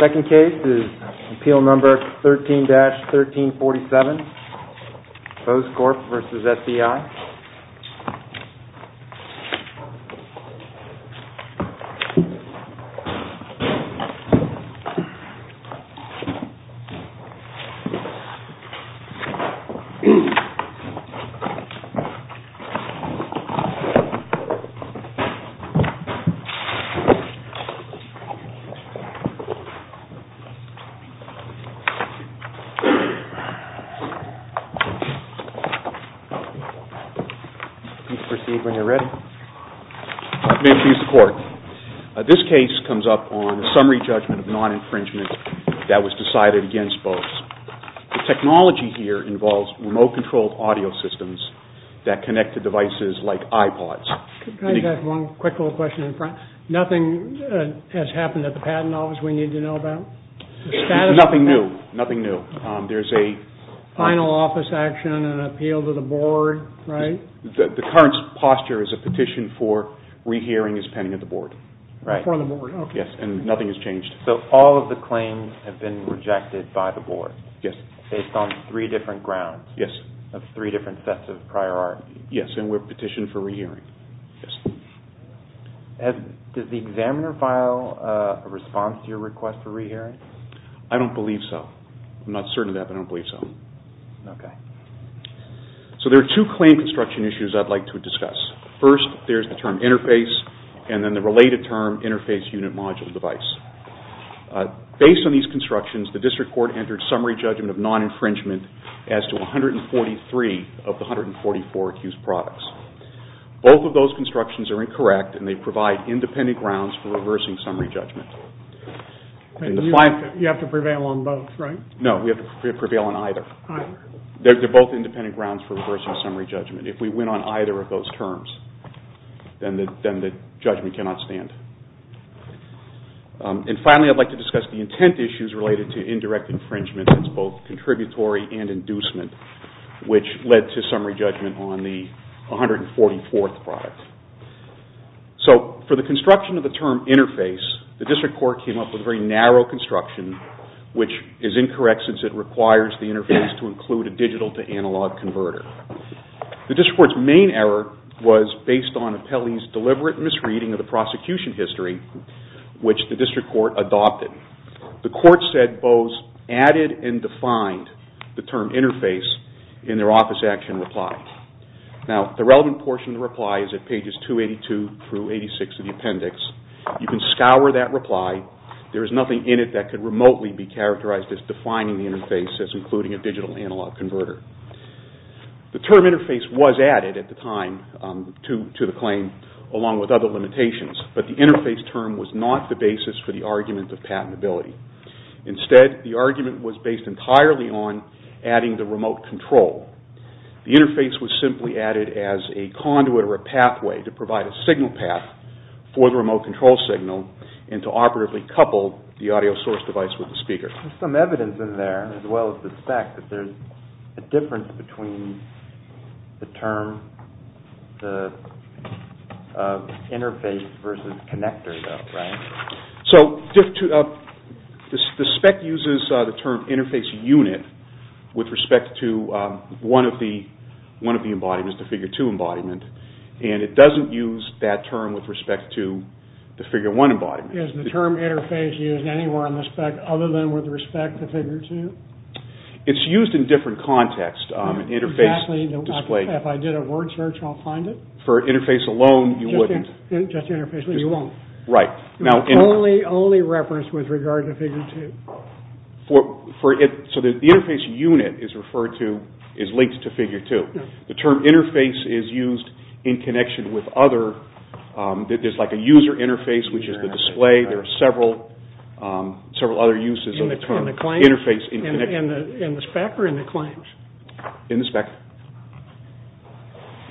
Second case is appeal number 13-1347, Bose Corp. v. SDI. This case comes up on a summary judgment of non-infringement that was decided against Bose. The technology here involves remote-controlled audio systems that connect to devices like iPods. The technology here involves remote-controlled audio systems that connect to devices like This case comes up on a summary judgment of non-infringement that was decided against The technology here involves remote-controlled audio systems that connect to devices like Does the examiner file a response to your request for re-hearing? I don't believe so. I'm not certain of that, but I don't believe so. Okay. So there are two claim construction issues I'd like to discuss. First, there's the term interface, and then the related term interface unit module device. Based on these constructions, the district court entered summary judgment of non-infringement as to 143 of the 144 accused products. Both of those constructions are incorrect, and they provide independent grounds for reversing summary judgment. You have to prevail on both, right? No, we have to prevail on either. Either. They're both independent grounds for reversing summary judgment. If we win on either of those terms, then the judgment cannot stand. And finally, I'd like to discuss the intent issues related to indirect infringement as to both contributory and inducement, which led to summary judgment on the 144th product. So for the construction of the term interface, the district court came up with a very narrow construction, which is incorrect since it requires the interface to include a digital to analog converter. The district court's main error was based on Apelli's deliberate misreading of the prosecution history, which the district court adopted. The court said both added and defined the term interface in their office action reply. Now, the relevant portion of the reply is at pages 282 through 86 of the appendix. You can scour that reply. There is nothing in it that could remotely be characterized as defining the interface as including a digital analog converter. The term interface was added at the time to the claim along with other limitations, but the interface term was not the basis for the argument of patentability. Instead, the argument was based entirely on adding the remote control. The interface was simply added as a conduit or a pathway to provide a signal path for the remote control signal and to operatively couple the audio source device with the speaker. There's some evidence in there, as well as the spec, that there's a difference between the term interface versus connector though, right? The spec uses the term interface unit with respect to one of the embodiments, the figure two embodiment, and it doesn't use that term with respect to the figure one embodiment. Is the term interface used anywhere in the spec other than with respect to figure two? It's used in different contexts. Exactly. If I did a word search, I'll find it. For interface alone, you wouldn't. Just interface, you won't. Right. Only referenced with regard to figure two. So the interface unit is referred to, is linked to figure two. The term interface is used in connection with other, there's like a user interface, which is the display. There are several other uses of the term interface in connection. In the spec or in the claims? In the spec.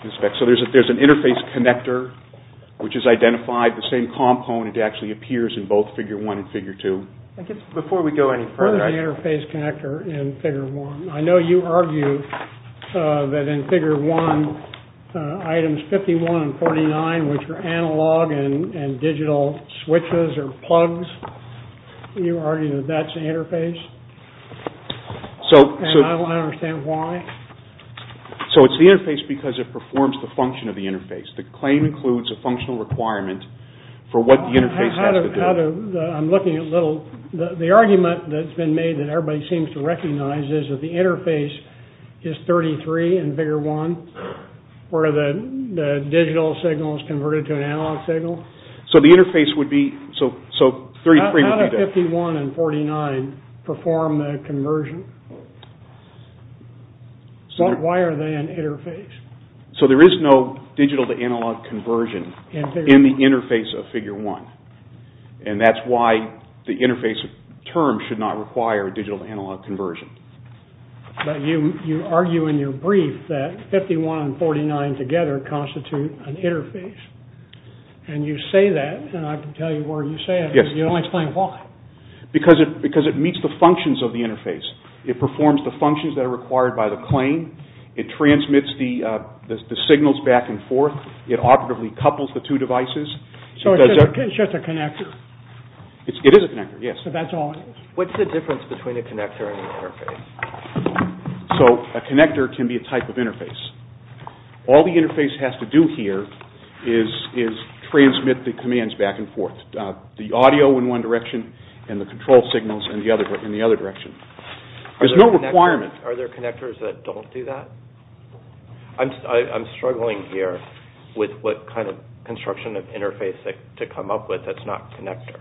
In the spec. So there's an interface connector, which is identified the same component actually appears in both figure one and figure two. Before we go any further. Where is the interface connector in figure one? I know you argue that in figure one, items 51 and 49, which are analog and digital switches or plugs, you argue that that's the interface. And I don't understand why. So it's the interface because it performs the function of the interface. The claim includes a functional requirement for what the interface has to do. I'm looking at little, the argument that's been made that everybody seems to recognize is that the interface is 33 in figure one, where the digital signal is converted to an analog signal. So the interface would be, so 53 would be there. How do 51 and 49 perform the conversion? Why are they an interface? So there is no digital to analog conversion in the interface of figure one. And that's why the interface term should not require a digital to analog conversion. But you argue in your brief that 51 and 49 together constitute an interface. And you say that, and I can tell you where you say it. Yes. You only explain why. Because it meets the functions of the interface. It performs the functions that are required by the claim. It transmits the signals back and forth. It operatively couples the two devices. So it's just a connector? It is a connector, yes. So that's all it is? What's the difference between a connector and an interface? So a connector can be a type of interface. All the interface has to do here is transmit the commands back and forth, the audio in one direction and the control signals in the other direction. There's no requirement. Are there connectors that don't do that? I'm struggling here with what kind of construction of interface to come up with that's not connector.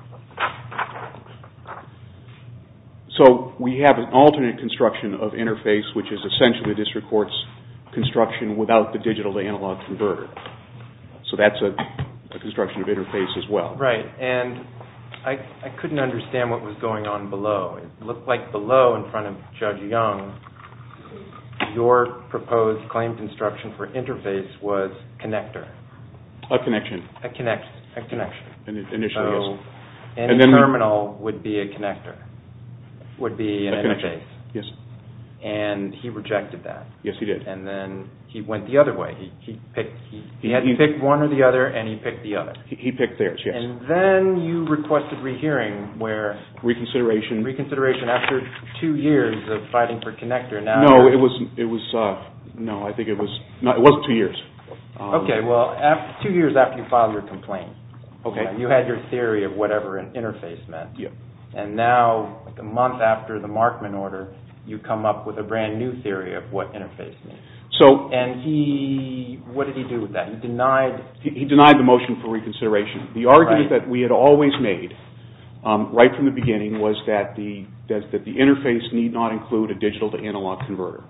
So we have an alternate construction of interface, which is essentially district court's construction without the digital to analog converter. So that's a construction of interface as well. Right. And I couldn't understand what was going on below. It looked like below in front of Judge Young, your proposed claim construction for interface was connector. A connection. A connection. Initially, yes. So any terminal would be a connector, would be an interface. Yes. And he rejected that. Yes, he did. And then he went the other way. He had to pick one or the other, and he picked the other. He picked theirs, yes. And then you requested rehearing where? Reconsideration. Reconsideration after two years of fighting for connector. No, I think it was two years. Okay, well, two years after you filed your complaint. Okay. You had your theory of whatever an interface meant. Yes. And now, a month after the Markman order, you come up with a brand new theory of what interface means. And what did he do with that? He denied the motion for reconsideration. The argument that we had always made right from the beginning was that the interface need not include a digital-to-analog converter.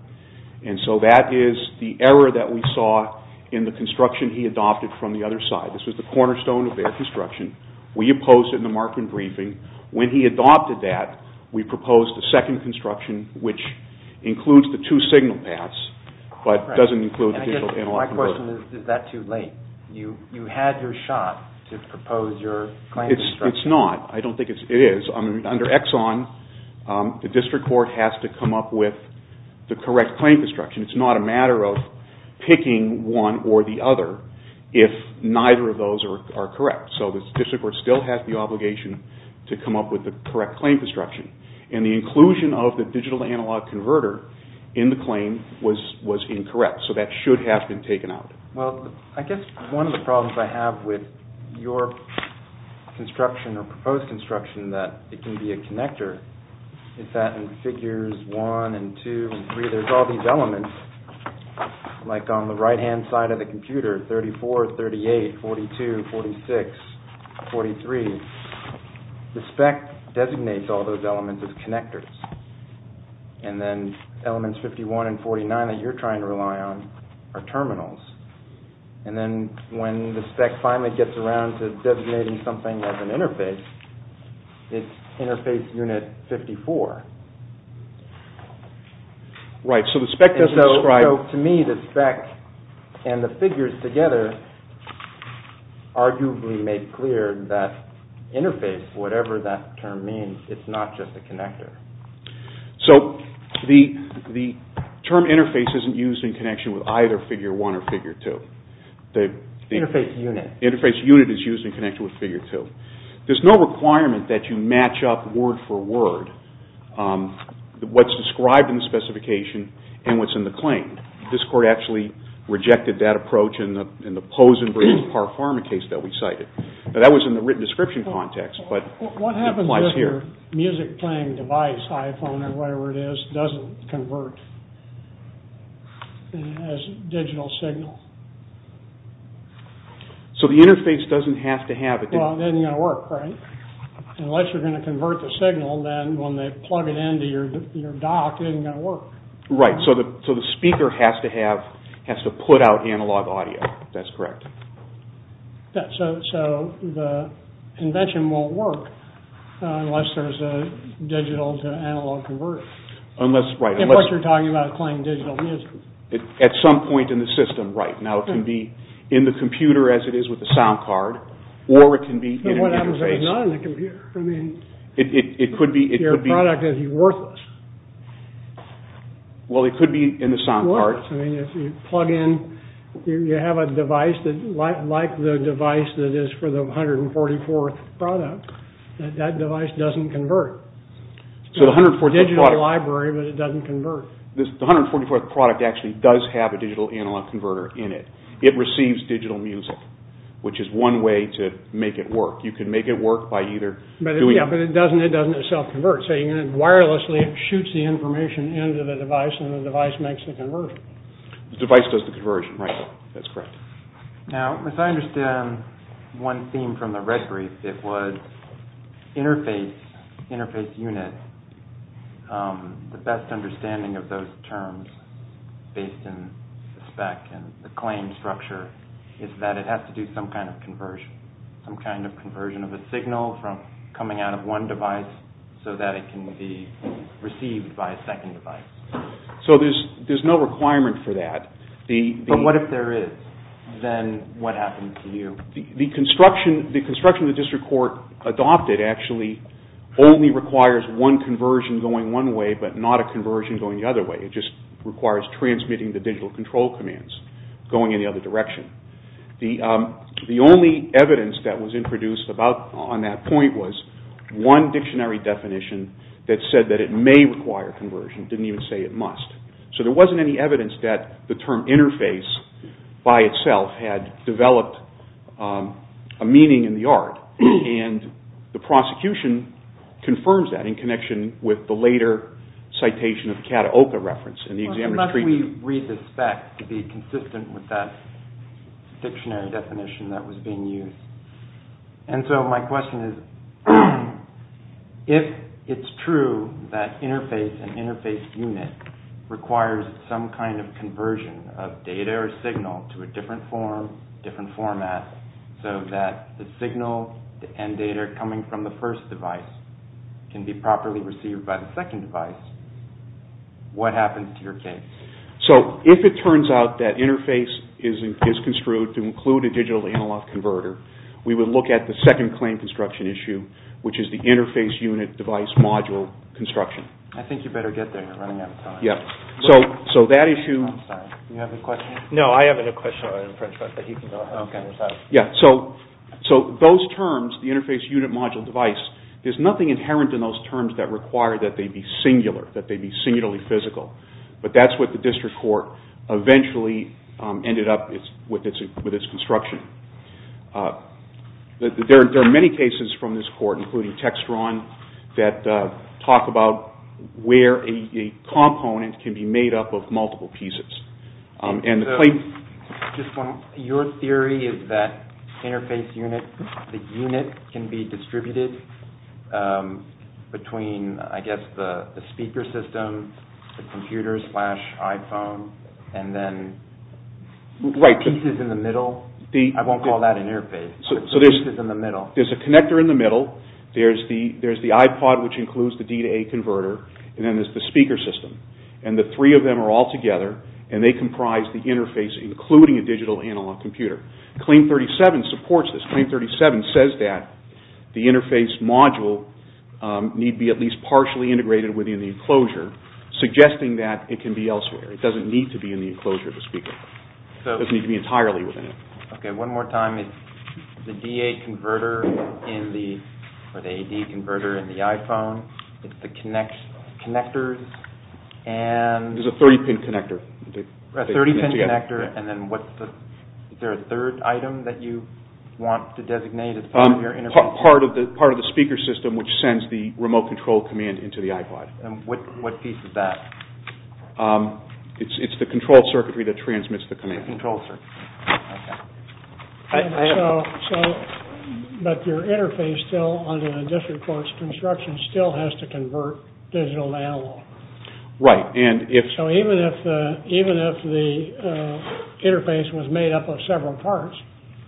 And so that is the error that we saw in the construction he adopted from the other side. This was the cornerstone of their construction. We opposed it in the Markman briefing. When he adopted that, we proposed a second construction, which includes the two signal paths, but doesn't include the digital-to-analog converter. My question is, is that too late? You had your shot to propose your claim construction. It's not. I don't think it is. Under Exxon, the district court has to come up with the correct claim construction. It's not a matter of picking one or the other if neither of those are correct. So the district court still has the obligation to come up with the correct claim construction. And the inclusion of the digital-to-analog converter in the claim was incorrect. So that should have been taken out. Well, I guess one of the problems I have with your construction or proposed construction that it can be a connector is that in figures 1 and 2 and 3, there's all these elements, like on the right-hand side of the computer, 34, 38, 42, 46, 43. And then elements 51 and 49 that you're trying to rely on are terminals. And then when the spec finally gets around to designating something as an interface, it's interface unit 54. Right, so the spec doesn't describe... To me, the spec and the figures together arguably make clear that interface, whatever that term means, it's not just a connector. So the term interface isn't used in connection with either figure 1 or figure 2. Interface unit. Interface unit is used in connection with figure 2. There's no requirement that you match up word for word what's described in the specification and what's in the claim. This court actually rejected that approach in the Pozen versus Parfarma case that we cited. That was in the written description context. What happens if your music-playing device, iPhone or whatever it is, doesn't convert as a digital signal? So the interface doesn't have to have... Well, it isn't going to work, right? Unless you're going to convert the signal, then when they plug it into your dock, it isn't going to work. Right, so the speaker has to put out analog audio. That's correct. So the invention won't work unless there's a digital-to-analog converter. Unless, right. Unless you're talking about playing digital music. At some point in the system, right. Now it can be in the computer as it is with the sound card, or it can be in an interface. But what happens if it's not in the computer? It could be... Your product is worthless. Well, it could be in the sound card. I mean, if you plug in... You have a device like the device that is for the 144th product. That device doesn't convert. It's a digital library, but it doesn't convert. The 144th product actually does have a digital-analog converter in it. It receives digital music, which is one way to make it work. You can make it work by either doing... Yeah, but it doesn't self-convert. So you're going to wirelessly... Put the information into the device, and the device makes the conversion. The device does the conversion, right. That's correct. Now, as I understand one theme from the red brief, it was interface, interface unit. The best understanding of those terms, based in the spec and the claim structure, is that it has to do some kind of conversion, some kind of conversion of a signal from coming out of one device so that it can be received by a second device. So there's no requirement for that. But what if there is? Then what happens to you? The construction the district court adopted actually only requires one conversion going one way, but not a conversion going the other way. It just requires transmitting the digital control commands, going in the other direction. The only evidence that was introduced on that point was one dictionary definition that said that it may require conversion. It didn't even say it must. So there wasn't any evidence that the term interface by itself had developed a meaning in the art, and the prosecution confirms that in connection with the later citation of the Cataoka reference. Unless we read the spec to be consistent with that dictionary definition that was being used. And so my question is, if it's true that interface and interface unit requires some kind of conversion of data or signal to a different form, different format, so that the signal and data coming from the first device can be properly received by the second device, what happens to your case? So if it turns out that interface is construed to include a digital analog converter, we would look at the second claim construction issue, which is the interface unit device module construction. I think you better get there. You're running out of time. So that issue... I'm sorry, do you have a question? No, I have a question. So those terms, the interface unit module device, there's nothing inherent in those terms that require that they be singular, that they be singularly physical. But that's what the district court eventually ended up with its construction. There are many cases from this court, including Textron, that talk about where a component can be made up of multiple pieces. And the claim... Your theory is that interface unit, the unit can be distributed between, I guess, the speaker system, the computer slash iPhone, and then... Pieces in the middle? I won't call that an interface. So there's a connector in the middle, there's the iPod, which includes the D-to-A converter, and then there's the speaker system. And the three of them are all together, and they comprise the interface, including a digital analog computer. Claim 37 supports this. Claim 37 says that the interface module need be at least partially integrated within the enclosure, suggesting that it can be elsewhere. It doesn't need to be in the enclosure of the speaker. It doesn't need to be entirely within it. Okay, one more time. The D-to-A converter in the iPhone, it's the connectors, and... There's a 30-pin connector. A 30-pin connector, and then what's the... Is there a third item that you want to designate as part of your interface? Part of the speaker system, which sends the remote control command into the iPod. And what piece is that? It's the control circuitry that transmits the command. The control circuitry, okay. So, but your interface still, under the district court's construction, still has to convert digital to analog. Right, and if... So even if the interface was made up of several parts,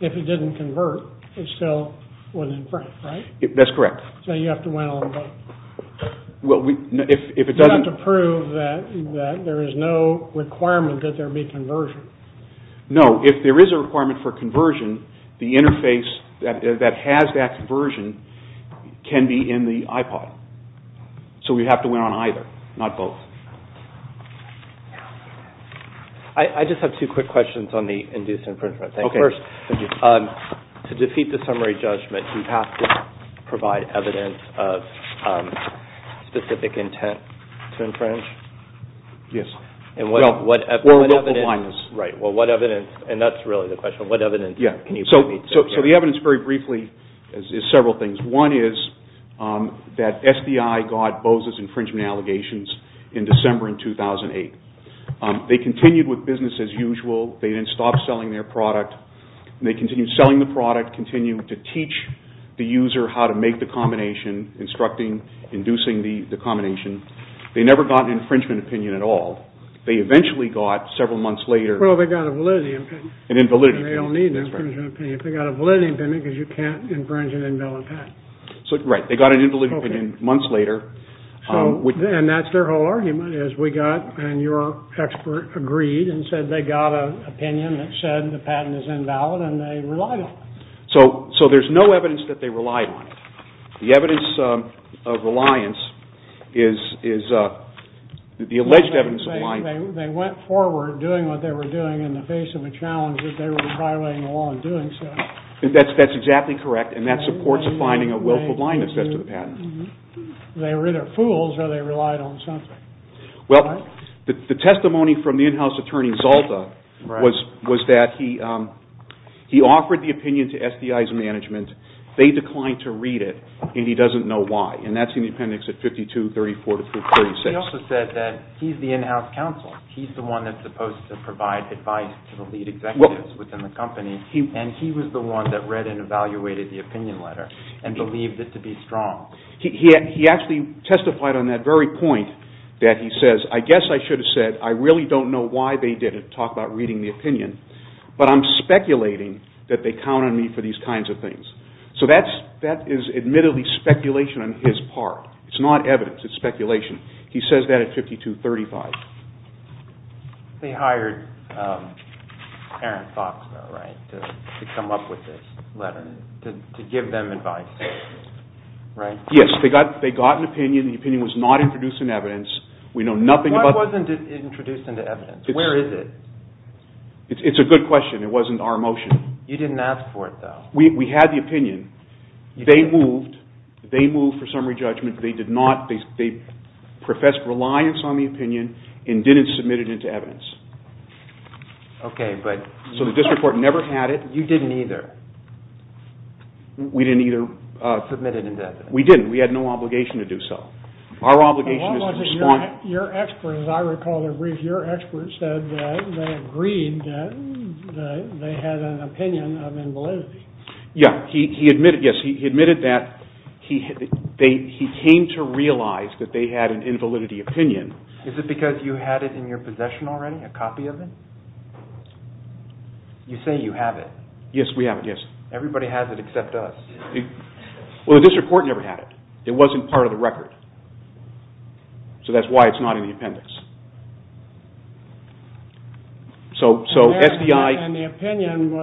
if it didn't convert, it still was in print, right? That's correct. So you have to... Well, if it doesn't... You have to prove that there is no requirement that there be conversion. No, if there is a requirement for conversion, the interface that has that conversion can be in the iPod. So we have to win on either, not both. I just have two quick questions on the induced infringement. Okay. To defeat the summary judgment, do you have to provide evidence of specific intent to infringe? Yes. Well, what evidence... Right, well, what evidence, and that's really the question, what evidence can you provide? So the evidence, very briefly, is several things. One is that SBI got Boza's infringement allegations in December in 2008. They continued with business as usual. They didn't stop selling their product. They continued selling the product, continued to teach the user how to make the combination, instructing, inducing the combination. They never got an infringement opinion at all. They eventually got, several months later... Well, they got a validity opinion. An invalid opinion. They don't need an infringement opinion. They got a validity opinion because you can't infringe an invalid patent. Right, they got an invalid opinion months later. And that's their whole argument, is we got, and your expert agreed, and said they got an opinion that said the patent is invalid, and they relied on it. So there's no evidence that they relied on it. The evidence of reliance is the alleged evidence of reliance. They went forward doing what they were doing in the face of a challenge that they were violating the law in doing so. That's exactly correct, and that supports finding a willful blindness as to the patent. They were either fools or they relied on something. Well, the testimony from the in-house attorney, Zalta, was that he offered the opinion to SDI's management. They declined to read it, and he doesn't know why. And that's in the appendix at 52-34-36. He also said that he's the in-house counsel. He's the one that's supposed to provide advice to the lead executives within the company, and he was the one that read and evaluated the opinion letter and believed it to be strong. He actually testified on that very point that he says, I guess I should have said, I really don't know why they didn't talk about reading the opinion, but I'm speculating that they count on me for these kinds of things. So that is admittedly speculation on his part. It's not evidence. It's speculation. He says that at 52-35. They hired Aaron Fox to come up with this letter to give them advice, right? Yes, they got an opinion. The opinion was not introduced in evidence. Why wasn't it introduced into evidence? Where is it? It's a good question. It wasn't our motion. You didn't ask for it, though. We had the opinion. They moved. They moved for summary judgment. They professed reliance on the opinion and didn't submit it into evidence. So the district court never had it. You didn't either. We didn't either. Submit it into evidence. We didn't. We had no obligation to do so. Our obligation is to respond. Your expert, as I recall their brief, your expert said that they agreed that they had an opinion of invalidity. Yes, he admitted that. He came to realize that they had an invalidity opinion. Is it because you had it in your possession already, a copy of it? You say you have it. Yes, we have it, yes. Everybody has it except us. Well, the district court never had it. It wasn't part of the record. So that's why it's not in the appendix. And the opinion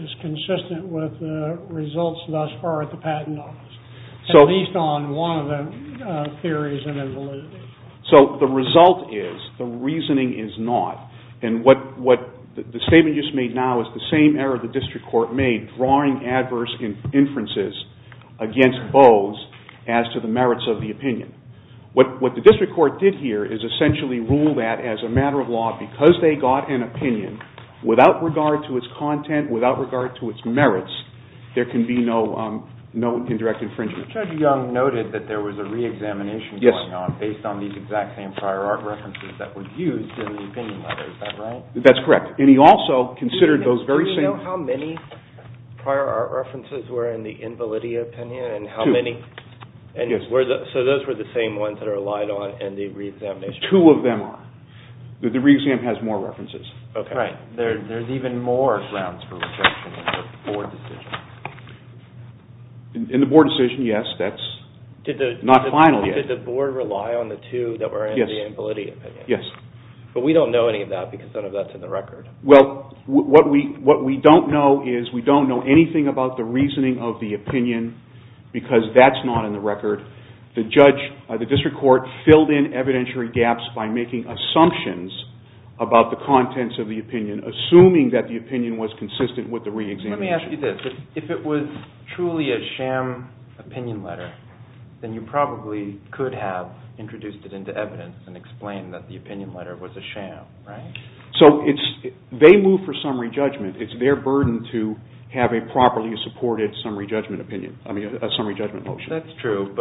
is consistent with the results thus far at the patent office, at least on one of the theories of invalidity. So the result is the reasoning is not. And what the statement you just made now is the same error the district court made, drawing adverse inferences against Bowes as to the merits of the opinion. What the district court did here is essentially rule that as a matter of law, because they got an opinion without regard to its content, without regard to its merits, there can be no indirect infringement. Judge Young noted that there was a re-examination going on based on these exact same prior art references that were used in the opinion letter. Is that right? That's correct. And he also considered those very same... Do you know how many prior art references were in the invalidity opinion? Two. And how many? So those were the same ones that are relied on in the re-examination? Two of them are. The re-exam has more references. Right. There's even more grounds for rejection in the board decision. In the board decision, yes, that's not final yet. Did the board rely on the two that were in the invalidity opinion? Yes. But we don't know any of that because none of that's in the record. Well, what we don't know is we don't know anything about the reasoning of the opinion because that's not in the record. The district court filled in evidentiary gaps by making assumptions about the contents of the opinion, assuming that the opinion was consistent with the re-examination. Let me ask you this. If it was truly a sham opinion letter, then you probably could have introduced it into evidence and explained that the opinion letter was a sham, right? So they move for summary judgment. It's their burden to have a properly supported summary judgment motion. That's true.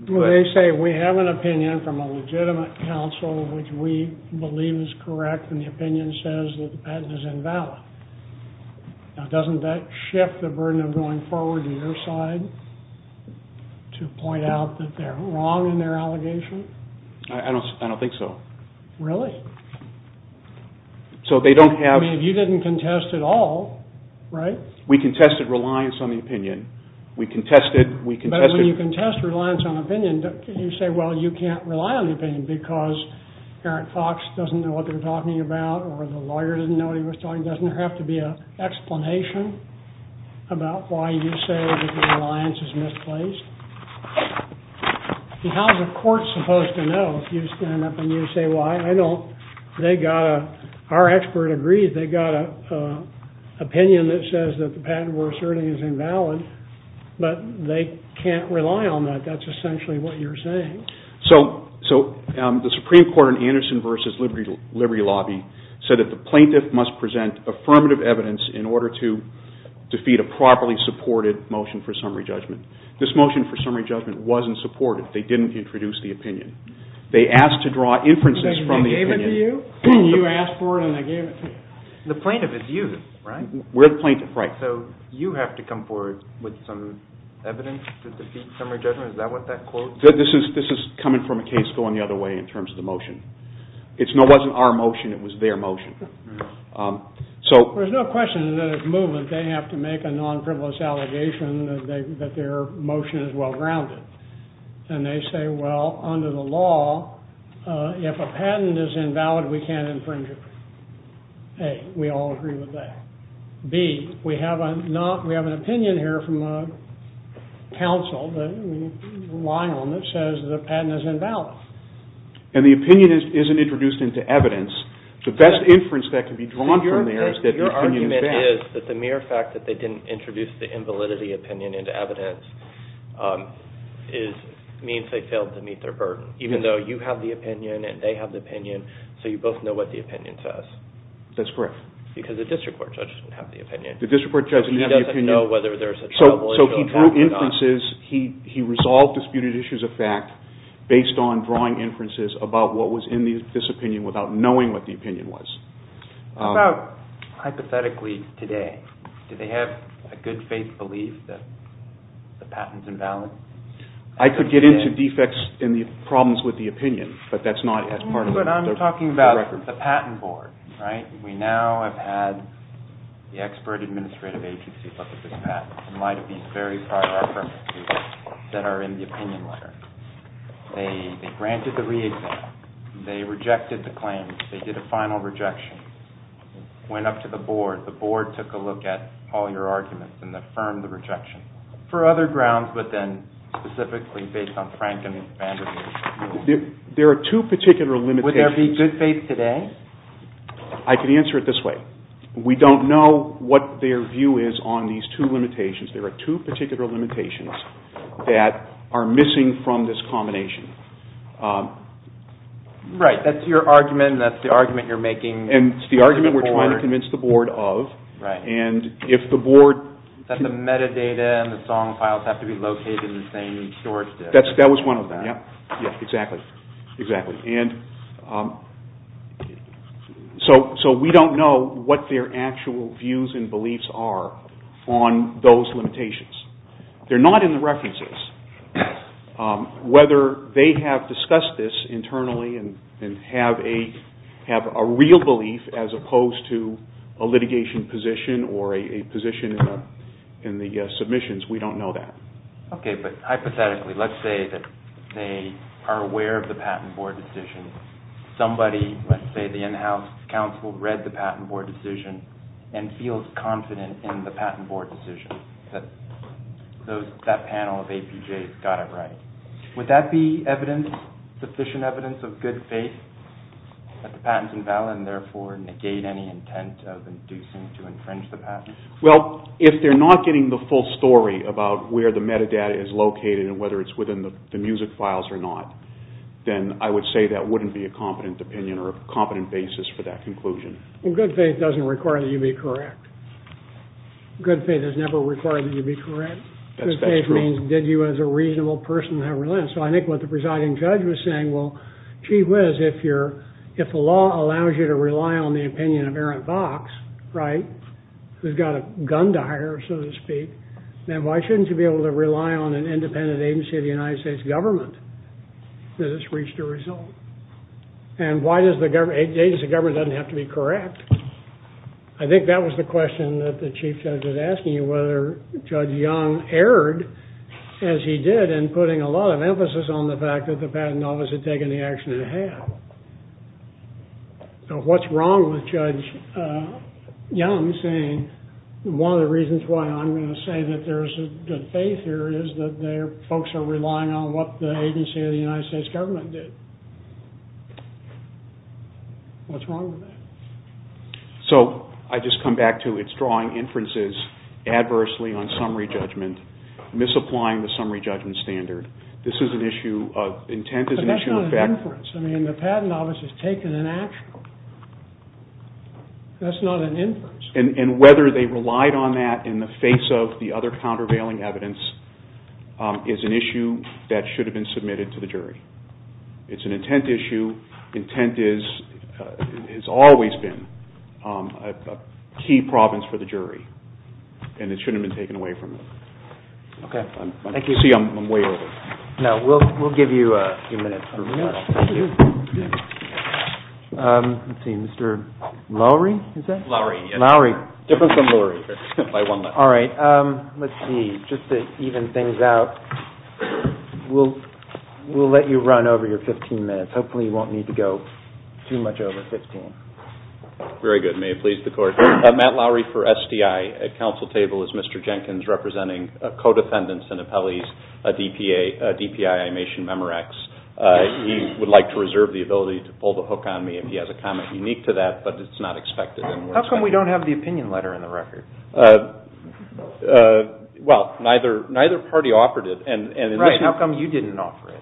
They say we have an opinion from a legitimate counsel which we believe is correct, and the opinion says that the patent is invalid. Now, doesn't that shift the burden of going forward to your side to point out that they're wrong in their allegation? I don't think so. Really? So they don't have... I mean, you didn't contest at all, right? We contested reliance on the opinion. We contested... But when you contest reliance on opinion, you say, well, you can't rely on the opinion because Eric Fox doesn't know what they're talking about or the lawyer didn't know what he was talking about. Doesn't there have to be an explanation about why you say that the reliance is misplaced? How is a court supposed to know if you stand up and you say why? I don't... They got a... Our expert agrees they got an opinion that says that the patent we're asserting is invalid, but they can't rely on that. That's essentially what you're saying. So the Supreme Court in Anderson v. Liberty Lobby said that the plaintiff must present affirmative evidence in order to defeat a properly supported motion for summary judgment. This motion for summary judgment wasn't supported. They didn't introduce the opinion. They asked to draw inferences from the opinion. They gave it to you, you asked for it, and they gave it to you. The plaintiff is you, right? We're the plaintiff, right. So you have to come forward with some evidence to defeat summary judgment? Is that what that clause is? This is coming from a case going the other way in terms of the motion. It wasn't our motion. It was their motion. So... There's no question that as a movement, they have to make a non-frivolous allegation that their motion is well-grounded. And they say, well, under the law, if a patent is invalid, we can't infringe it. A, we all agree with that. B, we have an opinion here from a counsel that we rely on that says the patent is invalid. And the opinion isn't introduced into evidence. The best inference that can be drawn from there is that the opinion is valid. Your argument is that the mere fact that they didn't introduce the invalidity opinion into evidence means they failed to meet their burden. Even though you have the opinion and they have the opinion, so you both know what the opinion says. That's correct. Because the district court judge doesn't have the opinion. The district court judge doesn't have the opinion. He doesn't know whether there's a trouble. So he drew inferences. He resolved disputed issues of fact based on drawing inferences about what was in this opinion without knowing what the opinion was. How about hypothetically today? Do they have a good faith belief that the patent's invalid? I could get into defects and the problems with the opinion, but that's not as part of the record. But I'm talking about the patent board, right? We now have had the expert administrative agency look at this patent in light of these very prior references that are in the opinion letter. They granted the re-exam. They rejected the claim. They did a final rejection. Went up to the board. The board took a look at all your arguments and affirmed the rejection. For other grounds, but then specifically based on Frank and his bandwidth. There are two particular limitations. Would there be good faith today? I can answer it this way. We don't know what their view is on these two limitations. There are two particular limitations that are missing from this combination. Right. That's your argument and that's the argument you're making. And it's the argument we're trying to convince the board of. Right. And if the board... That the metadata and the song files have to be located in the same storage disk. That was one of them. Yeah. Exactly. Exactly. and beliefs are on those limitations. They're not in the references. Whether they have discussed this internally and have a real belief as opposed to a litigation position or a position in the submissions, we don't know that. Okay, but hypothetically, let's say that they are aware of the patent board decision. Somebody, let's say the in-house counsel, read the patent board decision and feels confident in the patent board decision. That panel of APJs got it right. Would that be sufficient evidence of good faith that the patent's invalid and therefore negate any intent of inducing to infringe the patent? Well, if they're not getting the full story about where the metadata is located and whether it's within the music files or not, then I would say that wouldn't be a competent opinion or a competent basis for that conclusion. Well, good faith doesn't require that you be correct. Good faith has never required that you be correct. Good faith means did you, as a reasonable person, have relent? So I think what the presiding judge was saying, well, gee whiz, if the law allows you to rely on the opinion of Aaron Fox, right, who's got a gun to hire, so to speak, then why shouldn't you be able to rely on an independent agency of the United States government that has reached a result? And why does the government, the agency of government doesn't have to be correct. I think that was the question that the chief judge was asking you, whether Judge Young erred as he did in putting a lot of emphasis on the fact that the patent office had taken the action it had. So what's wrong with Judge Young saying one of the reasons why I'm going to say that there's a good faith here is that their folks are relying on what the agency of the United States government did? What's wrong with that? So I just come back to, it's drawing inferences adversely on summary judgment, misapplying the summary judgment standard. This is an issue of, intent is an issue of fact. But that's not an inference. I mean, the patent office has taken an action. That's not an inference. And whether they relied on that in the face of the other countervailing evidence is an issue that should have been submitted to the jury. It's an intent issue. Intent has always been a key province for the jury. And it shouldn't have been taken away from them. Okay, thank you. You can see I'm way over. No, we'll give you a few minutes. Let's see, Mr. Lowery, is that? Lowery, yes. Lowery. Different from Lowery, by one letter. All right, let's see. Just to even things out, we'll let you run over your 15 minutes. Hopefully you won't need to go too much over 15. Very good. May it please the Court. Matt Lowery for SDI. At counsel table is Mr. Jenkins, representing co-defendants and appellees, DPI Imation Memorax. He would like to reserve the ability to pull the hook on me if he has a comment unique to that, but it's not expected. How come we don't have the opinion letter in the record? Well, neither party offered it. Right, how come you didn't offer it?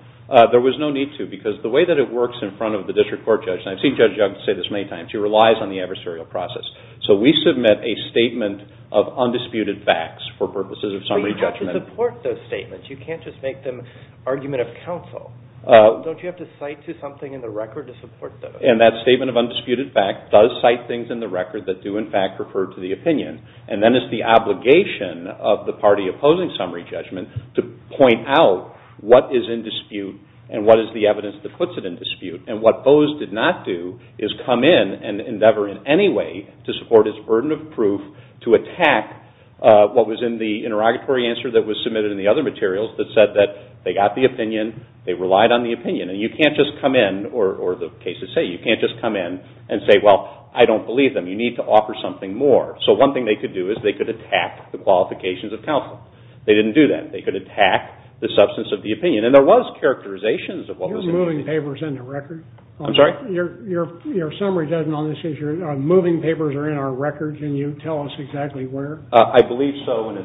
There was no need to, because the way that it works in front of the district court judge, and I've seen Judge Young say this many times, she relies on the adversarial process. So we submit a statement of undisputed facts for purposes of summary judgment. But you have to support those statements. You can't just make them argument of counsel. Don't you have to cite to something in the record to support those? And that statement of undisputed facts does cite things in the record that do in fact refer to the opinion, and then it's the obligation of the party opposing summary judgment to point out what is in dispute and what is the evidence that puts it in dispute. And what those did not do is come in and endeavor in any way to support its burden of proof to attack what was in the interrogatory answer that was submitted in the other materials that said that they got the opinion, they relied on the opinion. And you can't just come in, or the cases say you can't just come in and say, well, I don't believe them. You need to offer something more. So one thing they could do is they could attack the qualifications of counsel. They didn't do that. They could attack the substance of the opinion. And there was characterizations of what was in the record. You're moving papers in the record? I'm sorry? Your summary judgment on this issue, moving papers are in our records, and you tell us exactly where? I believe so, and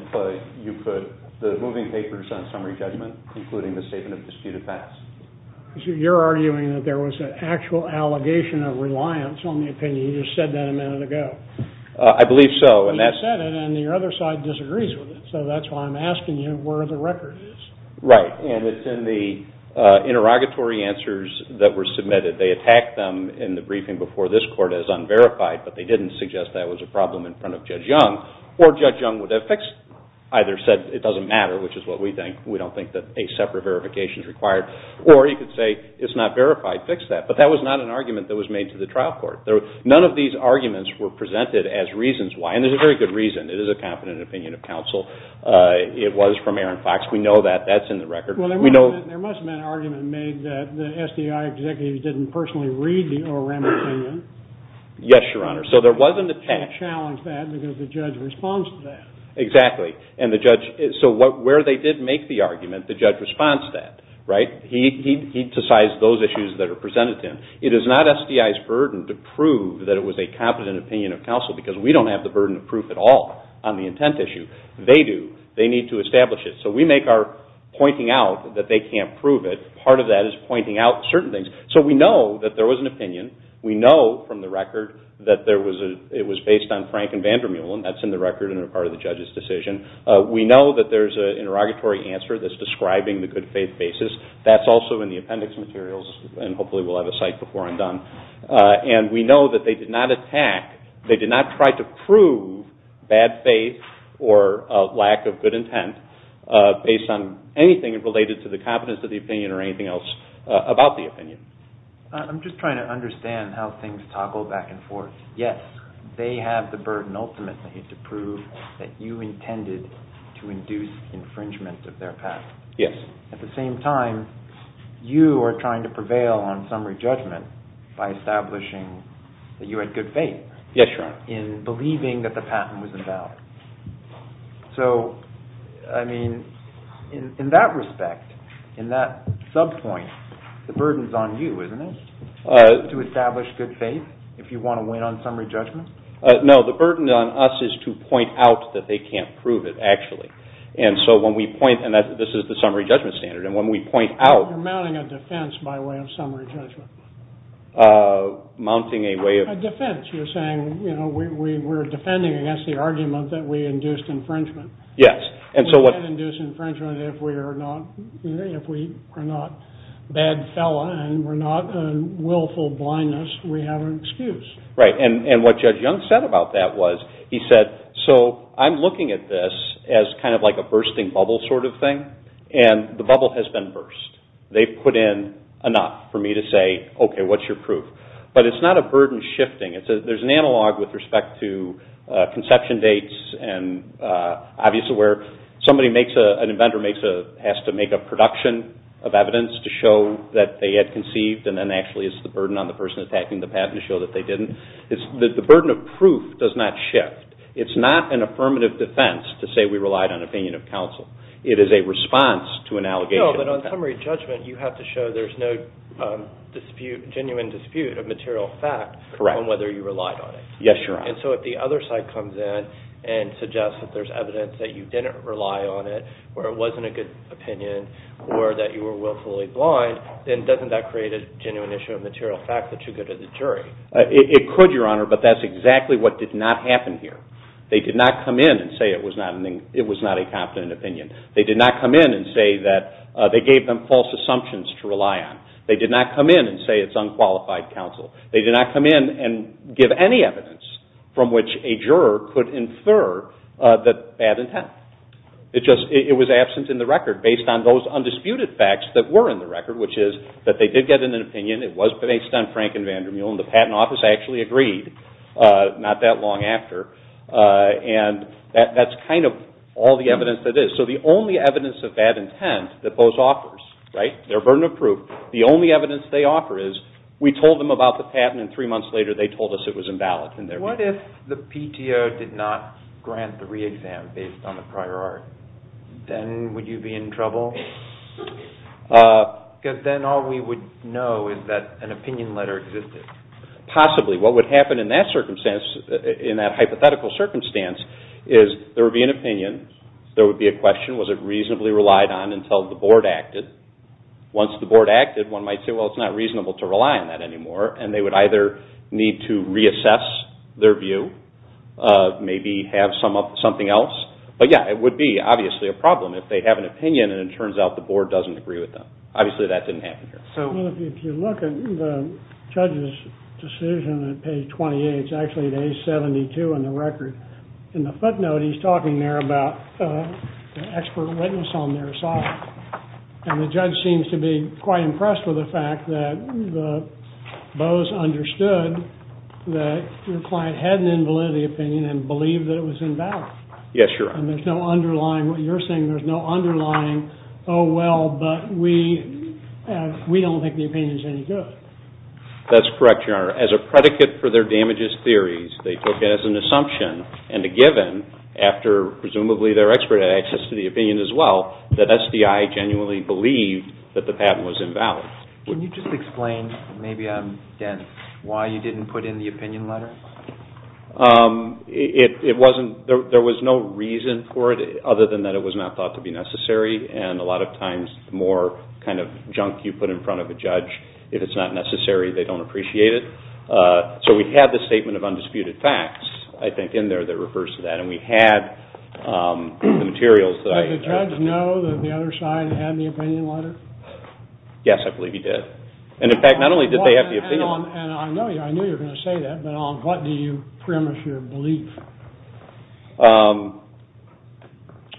you put the moving papers on summary judgment including the statement of disputed facts. You're arguing that there was an actual allegation of reliance on the opinion. You just said that a minute ago. I believe so. You said it, and your other side disagrees with it. So that's why I'm asking you where the record is. Right. And it's in the interrogatory answers that were submitted. They attacked them in the briefing before this court as unverified, but they didn't suggest that was a problem in front of Judge Young. Or Judge Young would have fixed, either said it doesn't matter, which is what we think. We don't think that a separate verification is required. Or you could say it's not verified. Fix that. But that was not an argument that was made to the trial court. None of these arguments were presented as reasons why. And there's a very good reason. It is a competent opinion of counsel. It was from Aaron Fox. We know that. That's in the record. Well, there must have been an argument made that the SDI executives didn't personally read the ORM opinion. Yes, Your Honor. So there was an attack. They challenged that because the judge responded to that. Exactly. So where they did make the argument, the judge responded to that. Right? It is not SDI's burden to prove that it was a competent opinion of counsel because we don't have the burden of proof at all on the intent issue. They do. They need to establish it. So we make our pointing out that they can't prove it. Part of that is pointing out certain things. So we know that there was an opinion. We know from the record that it was based on Frank and Vander Meulen. That's in the record and a part of the judge's decision. We know that there's an interrogatory answer that's describing the good faith basis. And we know that they did not attack, they did not try to prove bad faith or lack of good intent based on anything related to the competence of the opinion or anything else about the opinion. I'm just trying to understand how things toggle back and forth. Yes, they have the burden ultimately to prove that you intended to induce infringement of their patent. Yes. At the same time, you are trying to prevail on summary judgment by establishing that you had good faith. Yes, Your Honor. In believing that the patent was invalid. So, I mean, in that respect, in that sub-point, the burden's on you, isn't it, to establish good faith if you want to win on summary judgment? No, the burden on us is to point out that they can't prove it, actually. And so when we point, and this is the summary judgment standard, and when we point out... You're mounting a defense by way of summary judgment. Mounting a way of... A defense. You're saying, you know, we're defending against the argument that we induced infringement. Yes. We can't induce infringement if we are not a bad fella and we're not a willful blindness. We have an excuse. Right, and what Judge Young said about that was, he said, so I'm looking at this as kind of like a bursting bubble sort of thing, and the bubble has been burst. They've put in enough for me to say, okay, what's your proof? But it's not a burden shifting. There's an analog with respect to conception dates and obviously where somebody makes a... An inventor has to make a production of evidence to show that they had conceived, and then actually it's the burden on the person attacking the patent to show that they didn't. The burden of proof does not shift. It's not an affirmative defense to say we relied on opinion of counsel. It is a response to an allegation. No, but on summary judgment you have to show there's no dispute, genuine dispute of material fact on whether you relied on it. Yes, Your Honor. And so if the other side comes in and suggests that there's evidence that you didn't rely on it, or it wasn't a good opinion, or that you were willfully blind, then doesn't that create a genuine issue of material fact that you go to the jury? It could, Your Honor, but that's exactly what did not happen here. They did not come in and say it was not a confident opinion. They did not come in and say that they gave them false assumptions to rely on. They did not come in and say it's unqualified counsel. They did not come in and give any evidence from which a juror could infer that bad intent. It was absent in the record based on those undisputed facts that were in the record, which is that they did get an opinion. It was based on Frank and Vandermeul, and the Patent Office actually agreed not that long after. And that's kind of all the evidence that is. So the only evidence of bad intent that both offers, their burden of proof, the only evidence they offer is we told them about the patent and three months later they told us it was invalid. What if the PTO did not grant the re-exam based on the prior art? Then would you be in trouble? Because then all we would know is that an opinion letter existed. Possibly. What would happen in that hypothetical circumstance is there would be an opinion, there would be a question, was it reasonably relied on until the board acted? Once the board acted, one might say, well, it's not reasonable to rely on that anymore, and they would either need to reassess their view, maybe have something else. But yeah, it would be obviously a problem if they have an opinion and it turns out the board doesn't agree with them. Obviously that didn't happen here. Well, if you look at the judge's decision at page 28, it's actually at page 72 in the record. In the footnote he's talking there about the expert witness on their side. And the judge seems to be quite impressed with the fact that Bose understood that your client had an invalidity opinion and believed that it was invalid. Yes, you're right. And there's no underlying, what you're saying there's no underlying, oh, well, but we don't think the opinion's any good. That's correct, Your Honor. As a predicate for their damages theories, they took it as an assumption and a given, after presumably their expert had access to the opinion as well, that SDI genuinely believed that the patent was invalid. Can you just explain, maybe, Dan, why you didn't put in the opinion letter? It wasn't, there was no reason for it, other than that it was not thought to be necessary. And a lot of times the more kind of junk you put in front of a judge, if it's not necessary, they don't appreciate it. So we had the statement of undisputed facts, I think, in there that refers to that. And we had the materials that I... Did the judge know that the other side had the opinion letter? Yes, I believe he did. And, in fact, not only did they have the opinion letter... And I know you're going to say that, but on what do you premise your belief?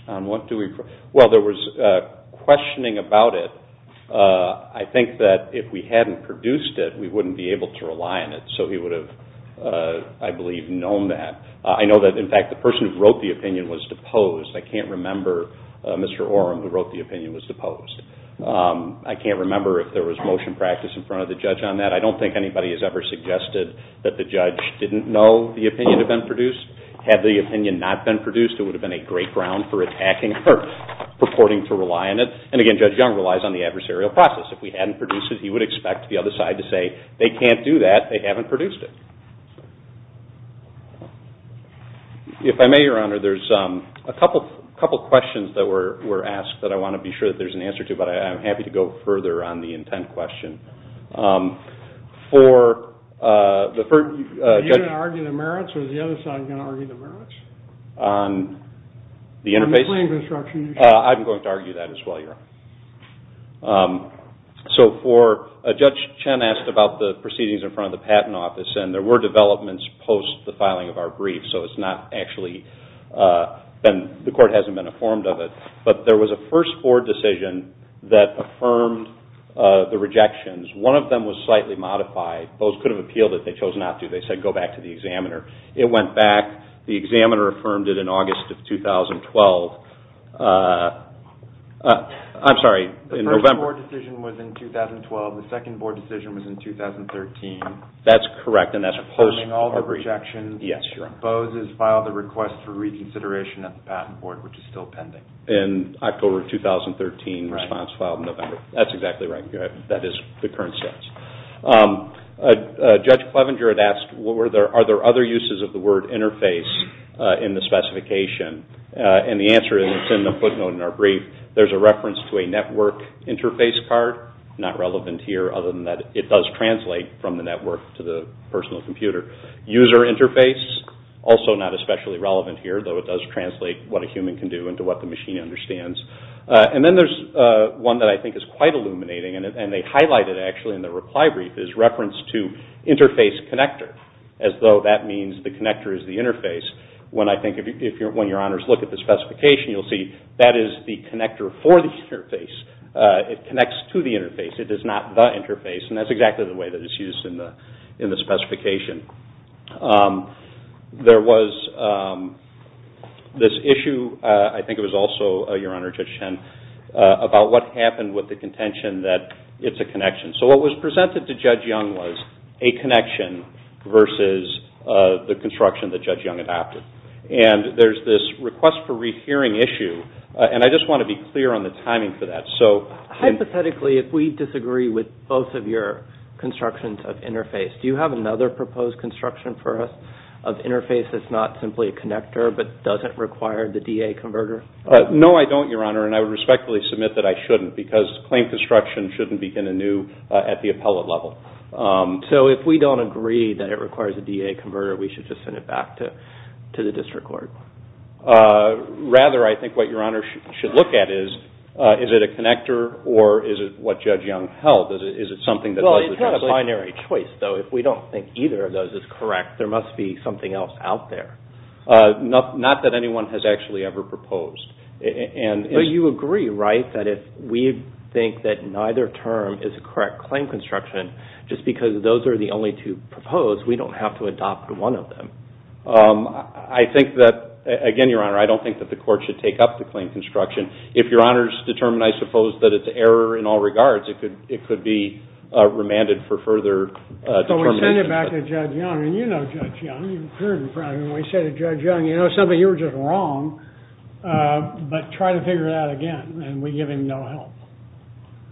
On what do we... Well, there was questioning about it. I think that if we hadn't produced it, we wouldn't be able to rely on it. So he would have, I believe, known that. I know that, in fact, the person who wrote the opinion was deposed. I can't remember Mr. Orem, who wrote the opinion, was deposed. I can't remember if there was motion practice in front of the judge on that. I don't think anybody has ever suggested that the judge didn't know the opinion had been produced. Had the opinion not been produced, it would have been a great ground for attacking or purporting to rely on it. And, again, Judge Young relies on the adversarial process. If we hadn't produced it, he would expect the other side to say, they can't do that, they haven't produced it. If I may, Your Honor, there's a couple questions that were asked that I want to be sure that there's an answer to, but I'm happy to go further on the intent question. For the first... Are you going to argue the merits, or is the other side going to argue the merits? On the interface? On the claim construction issue. I'm going to argue that as well, Your Honor. So, Judge Chen asked about the proceedings in front of the Patent Office, and there were developments post the filing of our brief, so it's not actually been, the court hasn't been informed of it, but there was a first board decision that affirmed the rejections. One of them was slightly modified. BOSE could have appealed it. They chose not to. They said, go back to the examiner. It went back. The examiner affirmed it in August of 2012. I'm sorry, in November. The first board decision was in 2012. The second board decision was in 2013. That's correct, and that's post our brief. Affirming all the rejections. Yes, Your Honor. BOSE has filed a request for reconsideration at the Patent Board, which is still pending. In October of 2013, response filed in November. That's exactly right. That is the current status. Judge Clevenger had asked, are there other uses of the word interface in the specification? And the answer is, it's in the footnote in our brief, there's a reference to a network interface card. Not relevant here, other than that it does translate from the network to the personal computer. User interface, also not especially relevant here, though it does translate what a human can do into what the machine understands. And then there's one that I think is quite illuminating, and they highlight it actually in the reply brief, is reference to interface connector, as though that means the connector is the interface. When I think, when Your Honors look at the specification, you'll see that is the connector for the interface. It connects to the interface. It is not the interface, and that's exactly the way that it's used in the specification. There was this issue, I think it was also, Your Honor, Judge Chen, about what happened with the contention that it's a connection. So what was presented to Judge Young was a connection versus the construction that Judge Young adopted. And there's this request for rehearing issue, and I just want to be clear on the timing for that. So... Hypothetically, if we disagree with both of your do you have another proposed construction for us of interface that's not simply a connector, but doesn't require the DA converter? No, I don't, Your Honor, and I would respectfully submit that I shouldn't, because claim construction shouldn't begin anew at the appellate level. So if we don't agree that it requires a DA converter, we should just send it back to the district court? Rather, I think what Your Honor should look at is, is it a connector, or is it what Judge Young held? Is it something that... Well, it's not a binary choice, though. If we don't think either of those is correct, there must be something else out there. Not that anyone has actually ever proposed. But you agree, right, that if we think that neither term is correct claim construction, just because those are the only two proposed, we don't have to adopt one of them? I think that... Again, Your Honor, I don't think that the court should take up the claim construction. If Your Honor's determined, I suppose, that it's error in all regards, it could be remanded for further determination. So we send it back to Judge Young, and you know Judge Young. You've heard him, probably, when he said to Judge Young, you know something, you were just wrong, but try to figure it out again, and we give him no help.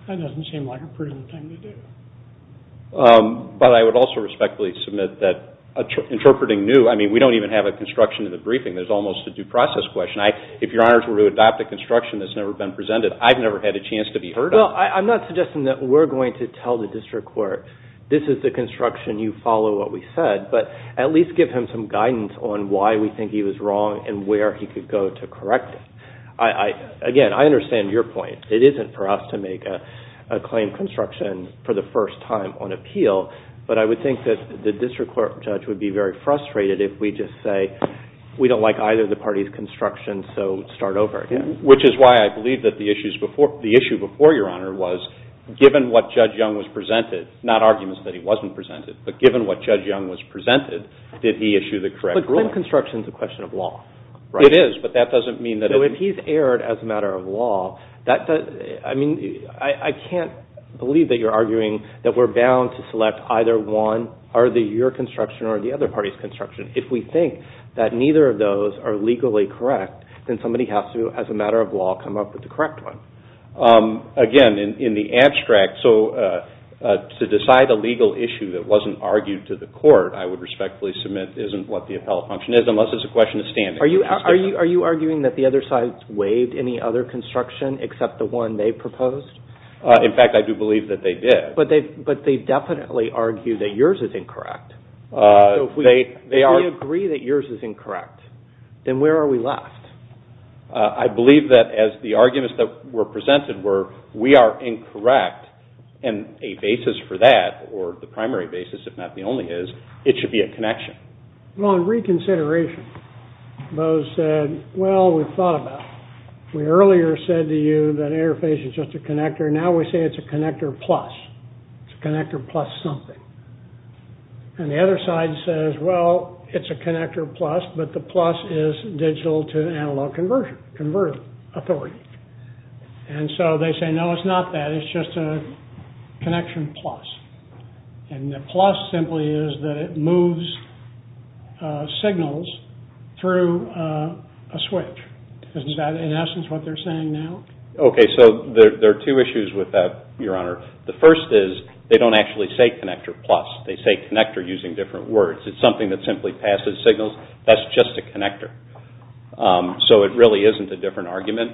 That doesn't seem like a prudent thing to do. But I would also respectfully submit that interpreting new, I mean, we don't even have a construction in the briefing. There's almost a due process question. If Your Honors were to adopt a construction that's never been presented, I've never had a chance to be heard of. Well, I'm not suggesting that we're going to tell the district court, this is the construction, you follow what we said, but at least give him some guidance on why we think he was wrong and where he could go to correct it. Again, I understand your point. It isn't for us to make a claim construction for the first time on appeal, but I would think that the district court judge would be very frustrated if we just say, we don't like either of the parties' construction, so start over again. Which is why I believe that the issue before, the issue before, Your Honor, was given what Judge Young was presented, not arguments that he wasn't presented, but given what Judge Young was presented, did he issue the correct ruling? But claim construction is a question of law, right? It is, but that doesn't mean that... So if he's erred as a matter of law, I mean, I can't believe that you're arguing that we're bound to select either one, either your construction or the other party's construction. If we think that neither of those are legally correct, then somebody has to, as a matter of law, come up with the correct one. Again, in the abstract, so to decide a legal issue that wasn't argued to the court, I would respectfully submit, isn't what the appellate function is, unless it's a question of standing. Are you arguing that the other side waived any other construction except the one they proposed? In fact, I do believe that they did. But they definitely argue that yours is incorrect. If we agree that yours is incorrect, then where are we left? I believe that as the arguments that were presented were, we are incorrect, and a basis for that, or the primary basis, if not the only is, it should be a connection. Well, in reconsideration, those said, well, we've thought about it. We earlier said to you that interface is just a connector. Now we say it's a connector plus. It's a connector plus something. And the other side says, well, it's a connector plus, but the plus is digital to analog conversion, conversion authority. And so they say, no, it's not that. It's just a connection plus. And the plus simply is that it moves signals through a switch. Is that, in essence, what they're saying now? Okay, so there are two issues with that, Your Honor. The first is, they don't actually say connector plus. They say connector using different words. It's something that simply passes signals. That's just a connector. So it really isn't a different argument.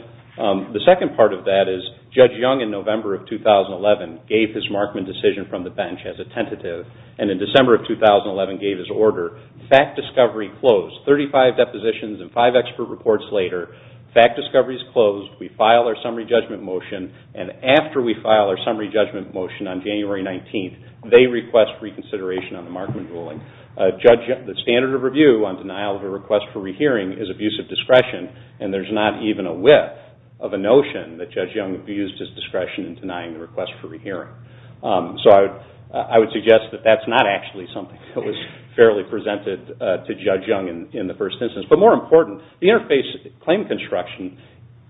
The second part of that is, Judge Young in November of 2011 gave his Markman decision from the bench as a tentative, and in December of 2011 gave his order. Fact discovery closed. Thirty-five depositions and five expert reports later, fact discovery's closed. We file our summary judgment motion, and after we file our summary judgment motion on January 19th, they request reconsideration on the Markman ruling. The standard of review on denial of a request for rehearing is abuse of discretion, and there's not even a whiff of a notion that Judge Young abused his discretion in denying the request for rehearing. So I would suggest that that's not actually something that was fairly presented to Judge Young in the first instance. But more important, the interface claim construction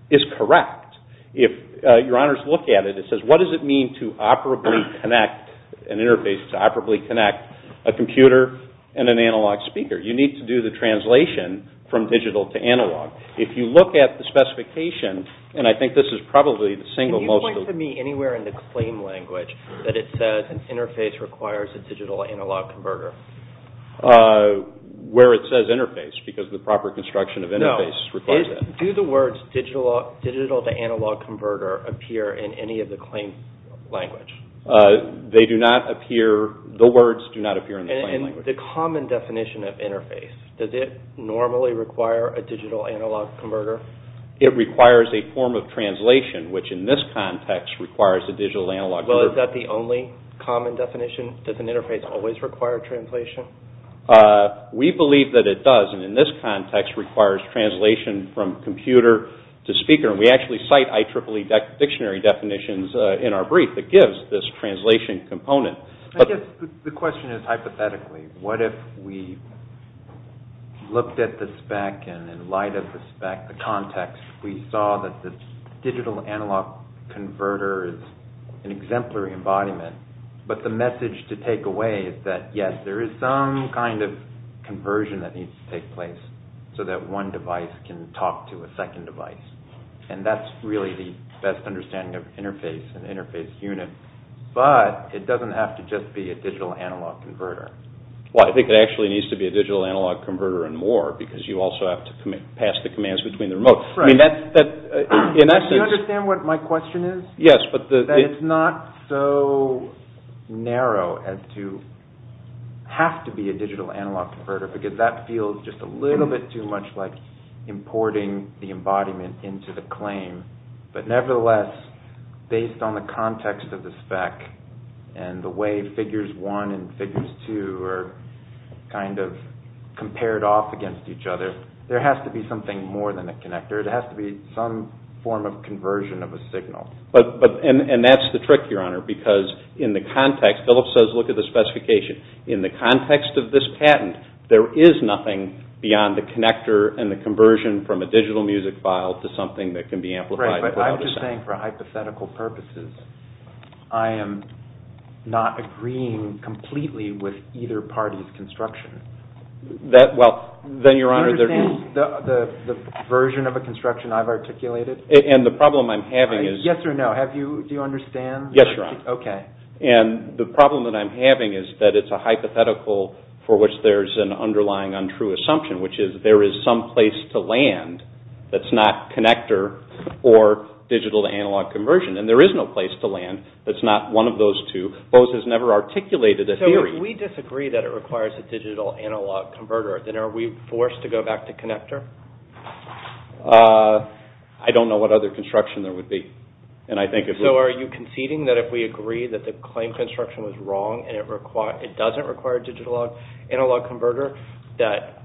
is correct. If Your Honors look at it, it says, what does it mean to operably connect an interface, to operably connect a computer and an analog speaker? You need to do the translation from digital to analog. If you look at the specification, and I think this is probably the single most... Can you point to me anywhere in the claim language that it says an interface requires a digital-analog converter? Where it says interface, because the proper construction of interface requires it. Do the words digital-to-analog converter appear in any of the claim language? They do not appear... The words do not appear in the claim language. And the common definition of interface, does it normally require a digital-analog converter? It requires a form of translation, which in this context requires a digital-analog converter. Well, is that the only common definition? Does an interface always require translation? We believe that it does, and in this context requires translation from computer to speaker, and we actually cite IEEE dictionary definitions in our brief that gives this translation component. I guess the question is, hypothetically, what if we looked at the spec, and in light of the spec, the context, we saw that the digital-analog converter is an exemplary embodiment, but the message to take away is that, yes, there is some kind of conversion that needs to take place so that one device can talk to a second device. And that's really the best understanding of interface, an interface unit, but it doesn't have to just be a digital-analog converter. Well, I think it actually needs to be a digital-analog converter and more because you also have to pass the commands between the remote. Right. Do you understand what my question is? Yes. That it's not so narrow as to have to be a digital-analog converter because that feels just a little bit too much like importing the embodiment into the claim. But nevertheless, based on the context of the spec and the way figures one and figures two are kind of compared off against each other, there has to be something more than a connector. It has to be some form of conversion of a signal. And that's the trick, Your Honor, because in the context, Philip says look at the specification. In the context of this patent, there is nothing beyond the connector and the conversion from a digital music file to something that can be amplified without a sound. Right, but I'm just saying for hypothetical purposes, I am not agreeing completely with either party's construction. Well, then, Your Honor, there is... Do you understand the version of a construction I've articulated? And the problem I'm having is... Yes or no. Do you understand? Yes, Your Honor. Okay. And the problem that I'm having is that it's a hypothetical for which there's an underlying untrue assumption, which is there is some place to land that's not connector or digital-to-analog conversion. And there is no place to land that's not one of those two. Bose has never articulated a theory. So if we disagree that it requires a digital-to-analog converter, then are we forced to go back to connector? I don't know what other construction there would be. So are you conceding that if we agree that the claim construction was wrong and it doesn't require a digital-to-analog converter, that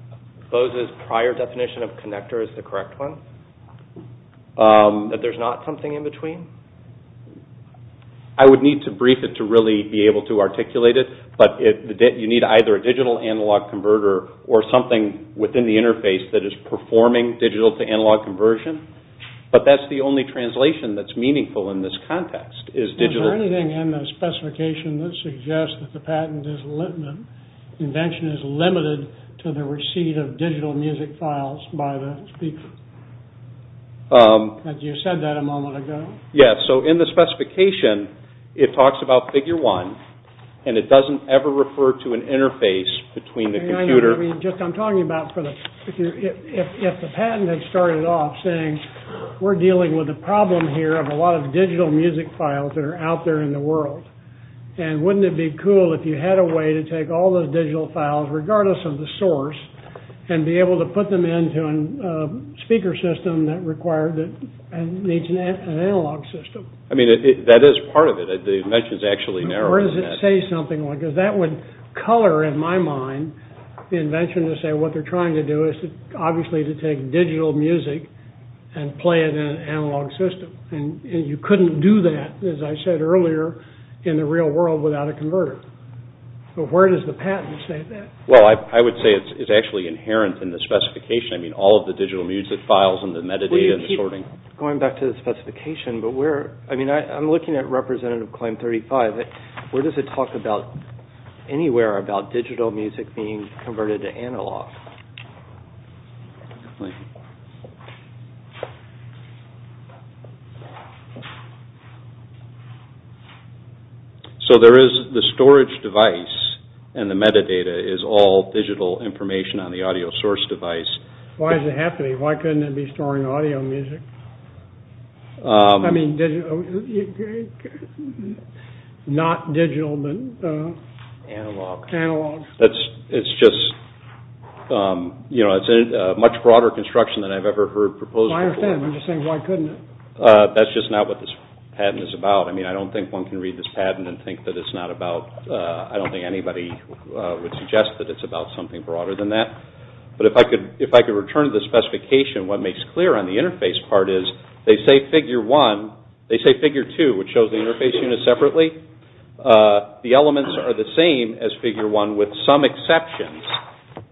Bose's prior definition of connector is the correct one? That there's not something in between? I would need to brief it to really be able to articulate it. But you need either a digital-analog converter or something within the interface that is performing digital-to-analog conversion. But that's the only translation that's meaningful in this context, is digital... Is there anything in the specification that suggests that the patent is... The invention is limited to the receipt of digital music files by the speaker? You said that a moment ago. Yeah, so in the specification, it talks about Figure 1, and it doesn't ever refer to an interface between the computer... I know what you mean. I'm talking about... If the patent had started off saying, we're dealing with a problem here of a lot of digital music files that are out there in the world, and wouldn't it be cool if you had a way to take all those digital files, regardless of the source, and be able to put them into a speaker system that needs an analog system? I mean, that is part of it. The invention is actually narrower than that. Or does it say something like... Because that would color, in my mind, the invention to say what they're trying to do is obviously to take digital music and play it in an analog system. And you couldn't do that, as I said earlier, in the real world without a converter. But where does the patent state that? Well, I would say it's actually inherent in the specification. I mean, all of the digital music files and the metadata and the sorting. Going back to the specification, but where... I mean, I'm looking at Representative Claim 35. Where does it talk about... anywhere about digital music being converted to analog? Thank you. So there is the storage device, and the metadata is all digital information on the audio source device. Why is it happening? Why couldn't it be storing audio music? I mean, not digital, but... Analog. Analog. It's just... It's a much broader construction than I've ever heard proposed before. I understand. I'm just saying, why couldn't it? That's just not what this patent is about. I mean, I don't think one can read this patent and think that it's not about... I don't think anybody would suggest that it's about something broader than that. But if I could return to the specification, what makes clear on the interface part is they say figure one... They say figure two, which shows the interface unit separately. The elements are the same as figure one with some exceptions.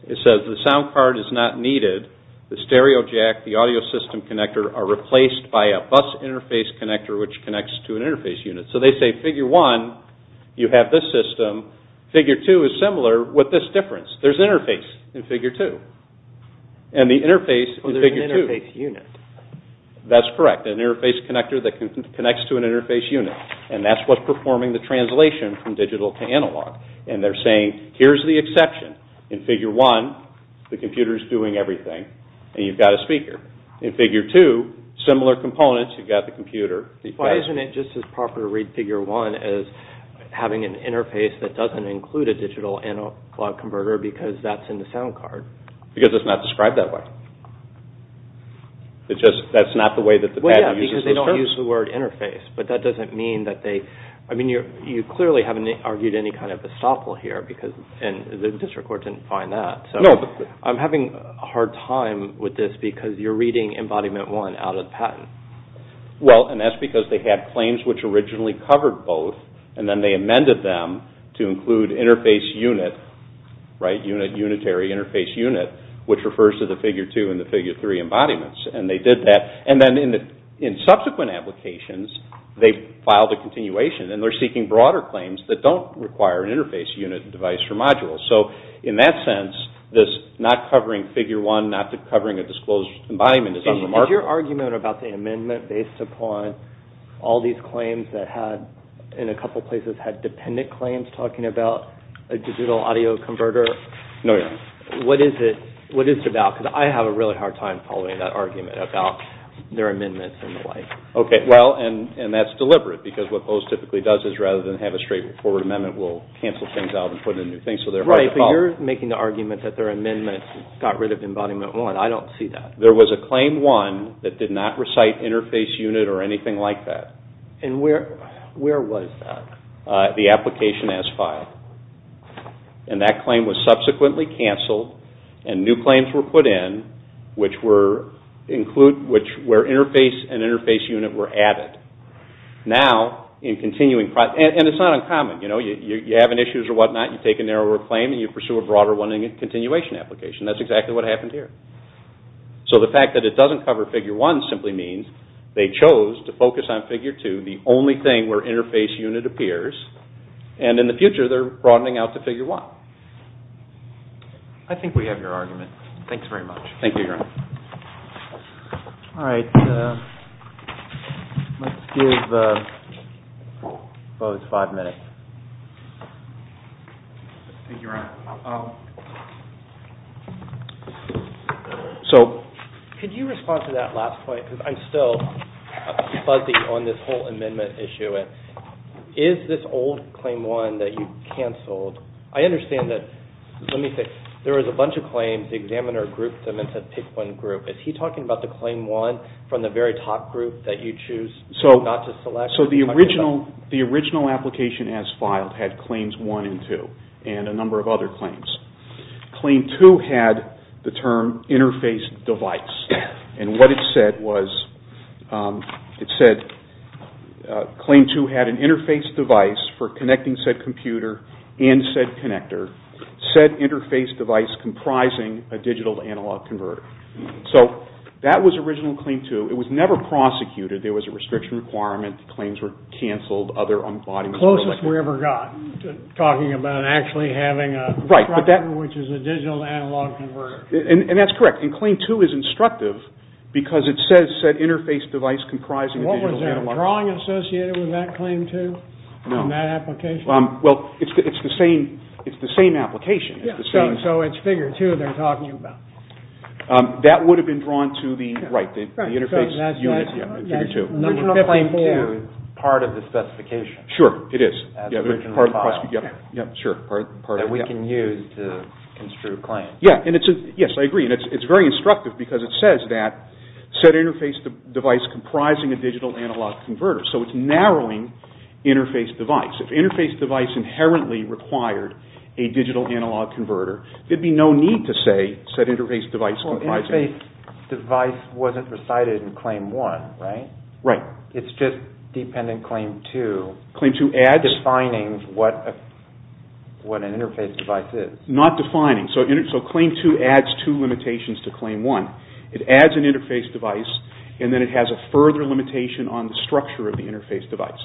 It says the sound card is not needed. The stereo jack, the audio system connector are replaced by a bus interface connector which connects to an interface unit. So they say figure one, you have this system. Figure two is similar with this difference. There's an interface in figure two. And the interface in figure two... So there's an interface unit. That's correct. An interface connector that connects to an interface unit. And that's what's performing the translation from digital to analog. And they're saying, here's the exception. In figure one, the computer's doing everything. And you've got a speaker. In figure two, similar components. You've got the computer. Why isn't it just as proper to read figure one as having an interface that doesn't include a digital analog converter because that's in the sound card? Because it's not described that way. That's not the way that the patent uses the term. Well, yeah, because they don't use the word interface. But that doesn't mean that they... I mean, you clearly haven't argued any kind of estoppel here. And the district court didn't find that. No, but... I'm having a hard time with this because you're reading embodiment one out of the patent. Well, and that's because they had claims which originally covered both. And then they amended them to include interface unit, right, unit, unitary interface unit, which refers to the figure two and the figure three embodiments. And they did that. And then in subsequent applications, they filed a continuation. And they're seeking broader claims that don't require an interface unit device or module. So in that sense, this not covering figure one, not covering a disclosed embodiment is unremarkable. Is your argument about the amendment based upon all these claims that had, in a couple places, had dependent claims talking about a digital audio converter? No, yeah. What is it about? Because I have a really hard time following that argument about their amendments and the like. Okay, well, and that's deliberate because what those typically does is rather than have a straightforward amendment, we'll cancel things out and put in new things. So they're hard to follow. Right, but you're making the argument that their amendments got rid of embodiment one. I don't see that. There was a claim one that did not recite interface unit or anything like that. And where was that? The application as filed. And that claim was subsequently canceled and new claims were put in which were, include, where interface and interface unit were added. Now, in continuing, and it's not uncommon, you know, you have an issue or whatnot, you take a narrower claim and you pursue a broader one in a continuation application. That's exactly what happened here. So the fact that it doesn't cover figure one simply means they chose to focus on figure two, the only thing where interface unit appears, and in the future they're broadening out to figure one. I think we have your argument. Thanks very much. Thank you, Your Honor. All right. Let's give both five minutes. Thank you, Your Honor. So could you respond to that last point? Because I'm still fuzzy on this whole amendment issue. Is this old claim one that you canceled, I understand that, let me think, there was a bunch of claims, the examiner grouped them into pick one group. Is he talking about the claim one from the very top group that you choose not to select? So the original application as filed had claims one and two, and a number of other claims. Claim two had the term interface device, and what it said was, it said claim two had an interface device for connecting said computer and said connector, said interface device comprising a digital analog converter. So that was original claim two. It was never prosecuted. There was a restriction requirement. Claims were canceled. Closest we ever got to talking about actually having a, which is a digital analog converter. And that's correct. And claim two is instructive because it says said interface device comprising a digital analog converter. What was there, drawing associated with that claim two? No. In that application? Well, it's the same application. So it's figure two they're talking about. That would have been drawn to the, right, the interface unit in figure two. Number 54 is part of the specification. Sure, it is. As originally filed. That we can use to construe claims. Yes, I agree. And it's very instructive because it says that said interface device comprising a digital analog converter. So it's narrowing interface device. If interface device inherently required a digital analog converter, there'd be no need to say said interface device comprising. Well, interface device wasn't recited in claim one, right? Right. It's just dependent claim two. Claim two adds. Defining what an interface device is. Not defining. So claim two adds two limitations to claim one. It adds an interface device and then it has a further limitation on the structure of the interface device.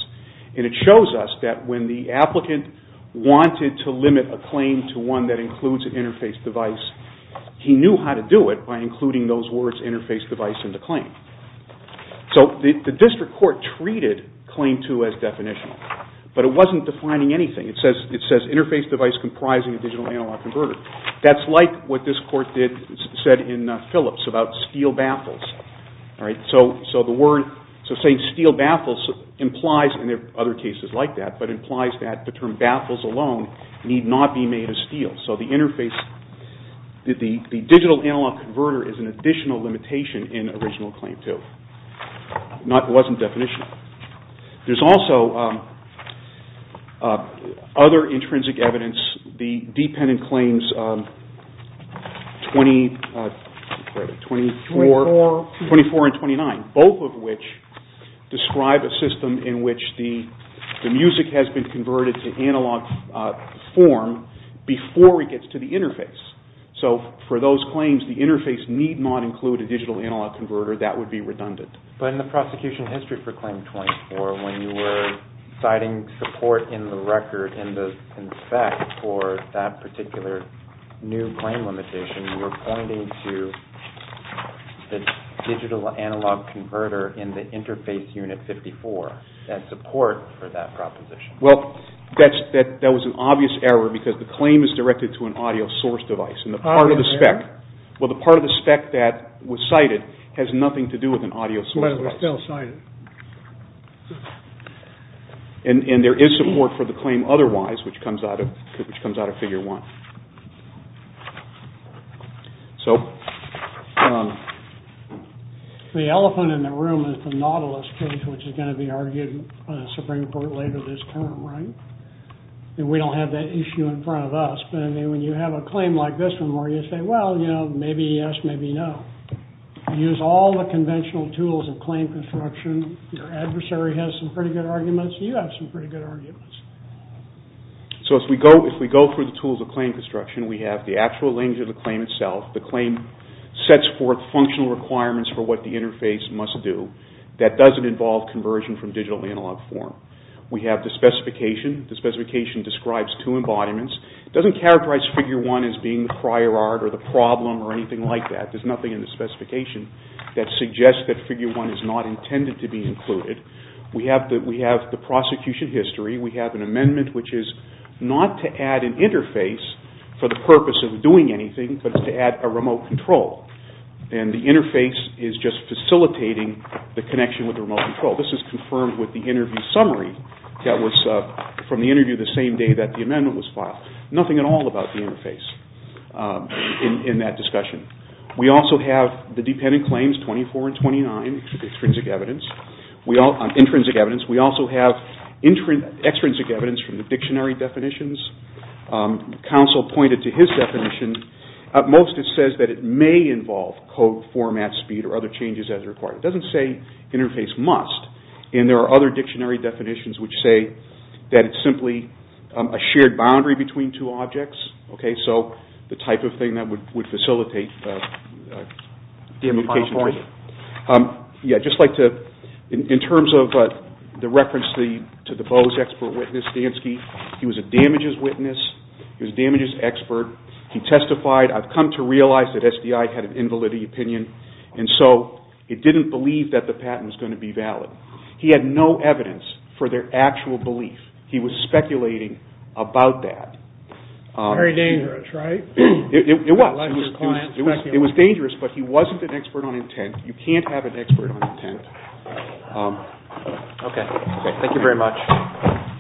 And it shows us that when the applicant wanted to limit a claim to one that includes an interface device, he knew how to do it by including those words interface device in the claim. So the district court treated claim two as definitional. But it wasn't defining anything. It says interface device comprising a digital analog converter. That's like what this court said in Phillips about steel baffles. So saying steel baffles implies, and there are other cases like that, but implies that the term baffles alone need not be made of steel. So the digital analog converter is an additional limitation in original claim two. It wasn't definitional. There's also other intrinsic evidence. The dependent claims 24 and 29, both of which describe a system in which the music has been converted to analog form before it gets to the interface. So for those claims, the interface need not include a digital analog converter. That would be redundant. But in the prosecution history for claim 24, when you were citing support in the record in the spec for that particular new claim limitation, you were pointing to the digital analog converter in the interface unit 54 as support for that proposition. Well, that was an obvious error because the claim is directed to an audio source device. Well, the part of the spec that was cited has nothing to do with an audio source device. And there is support for the claim otherwise, which comes out of figure one. The elephant in the room is the Nautilus case, which is going to be argued in a Supreme Court later this term, right? We don't have that issue in front of us, but when you have a claim like this one where you say, well, you know, maybe yes, maybe no. You use all the conventional tools of claim construction. Your adversary has some pretty good arguments. You have some pretty good arguments. So if we go through the tools of claim construction, we have the actual language of the claim itself. The claim sets forth functional requirements for what the interface must do. That doesn't involve conversion from digital analog form. We have the specification. The specification describes two embodiments. It doesn't characterize figure one as being the prior art or the problem or anything like that. There's nothing in the specification that suggests that figure one is not intended to be included. We have the prosecution history. We have an amendment which is not to add an interface for the purpose of doing anything, but it's to add a remote control. And the interface is just facilitating the connection with the remote control. This is confirmed with the interview summary that was from the interview the same day that the amendment was filed. Nothing at all about the interface in that discussion. We also have the dependent claims 24 and 29, extrinsic evidence. Intrinsic evidence. We also have extrinsic evidence from the dictionary definitions. Counsel pointed to his definition. At most it says that it may involve code format speed or other changes as required. It doesn't say interface must. And there are other dictionary definitions which say that it's simply a shared boundary between two objects. So the type of thing that would facilitate the communication. In terms of the reference to the Bose expert witness, Dansky, he was a damages witness. He was a damages expert. He testified, I've come to realize that SDI had an invalidity opinion, and so it didn't believe that the patent was going to be valid. He had no evidence for their actual belief. He was speculating about that. Very dangerous, right? It was. It was dangerous, but he wasn't an expert on intent. You can't have an expert on intent. Okay. Thank you very much.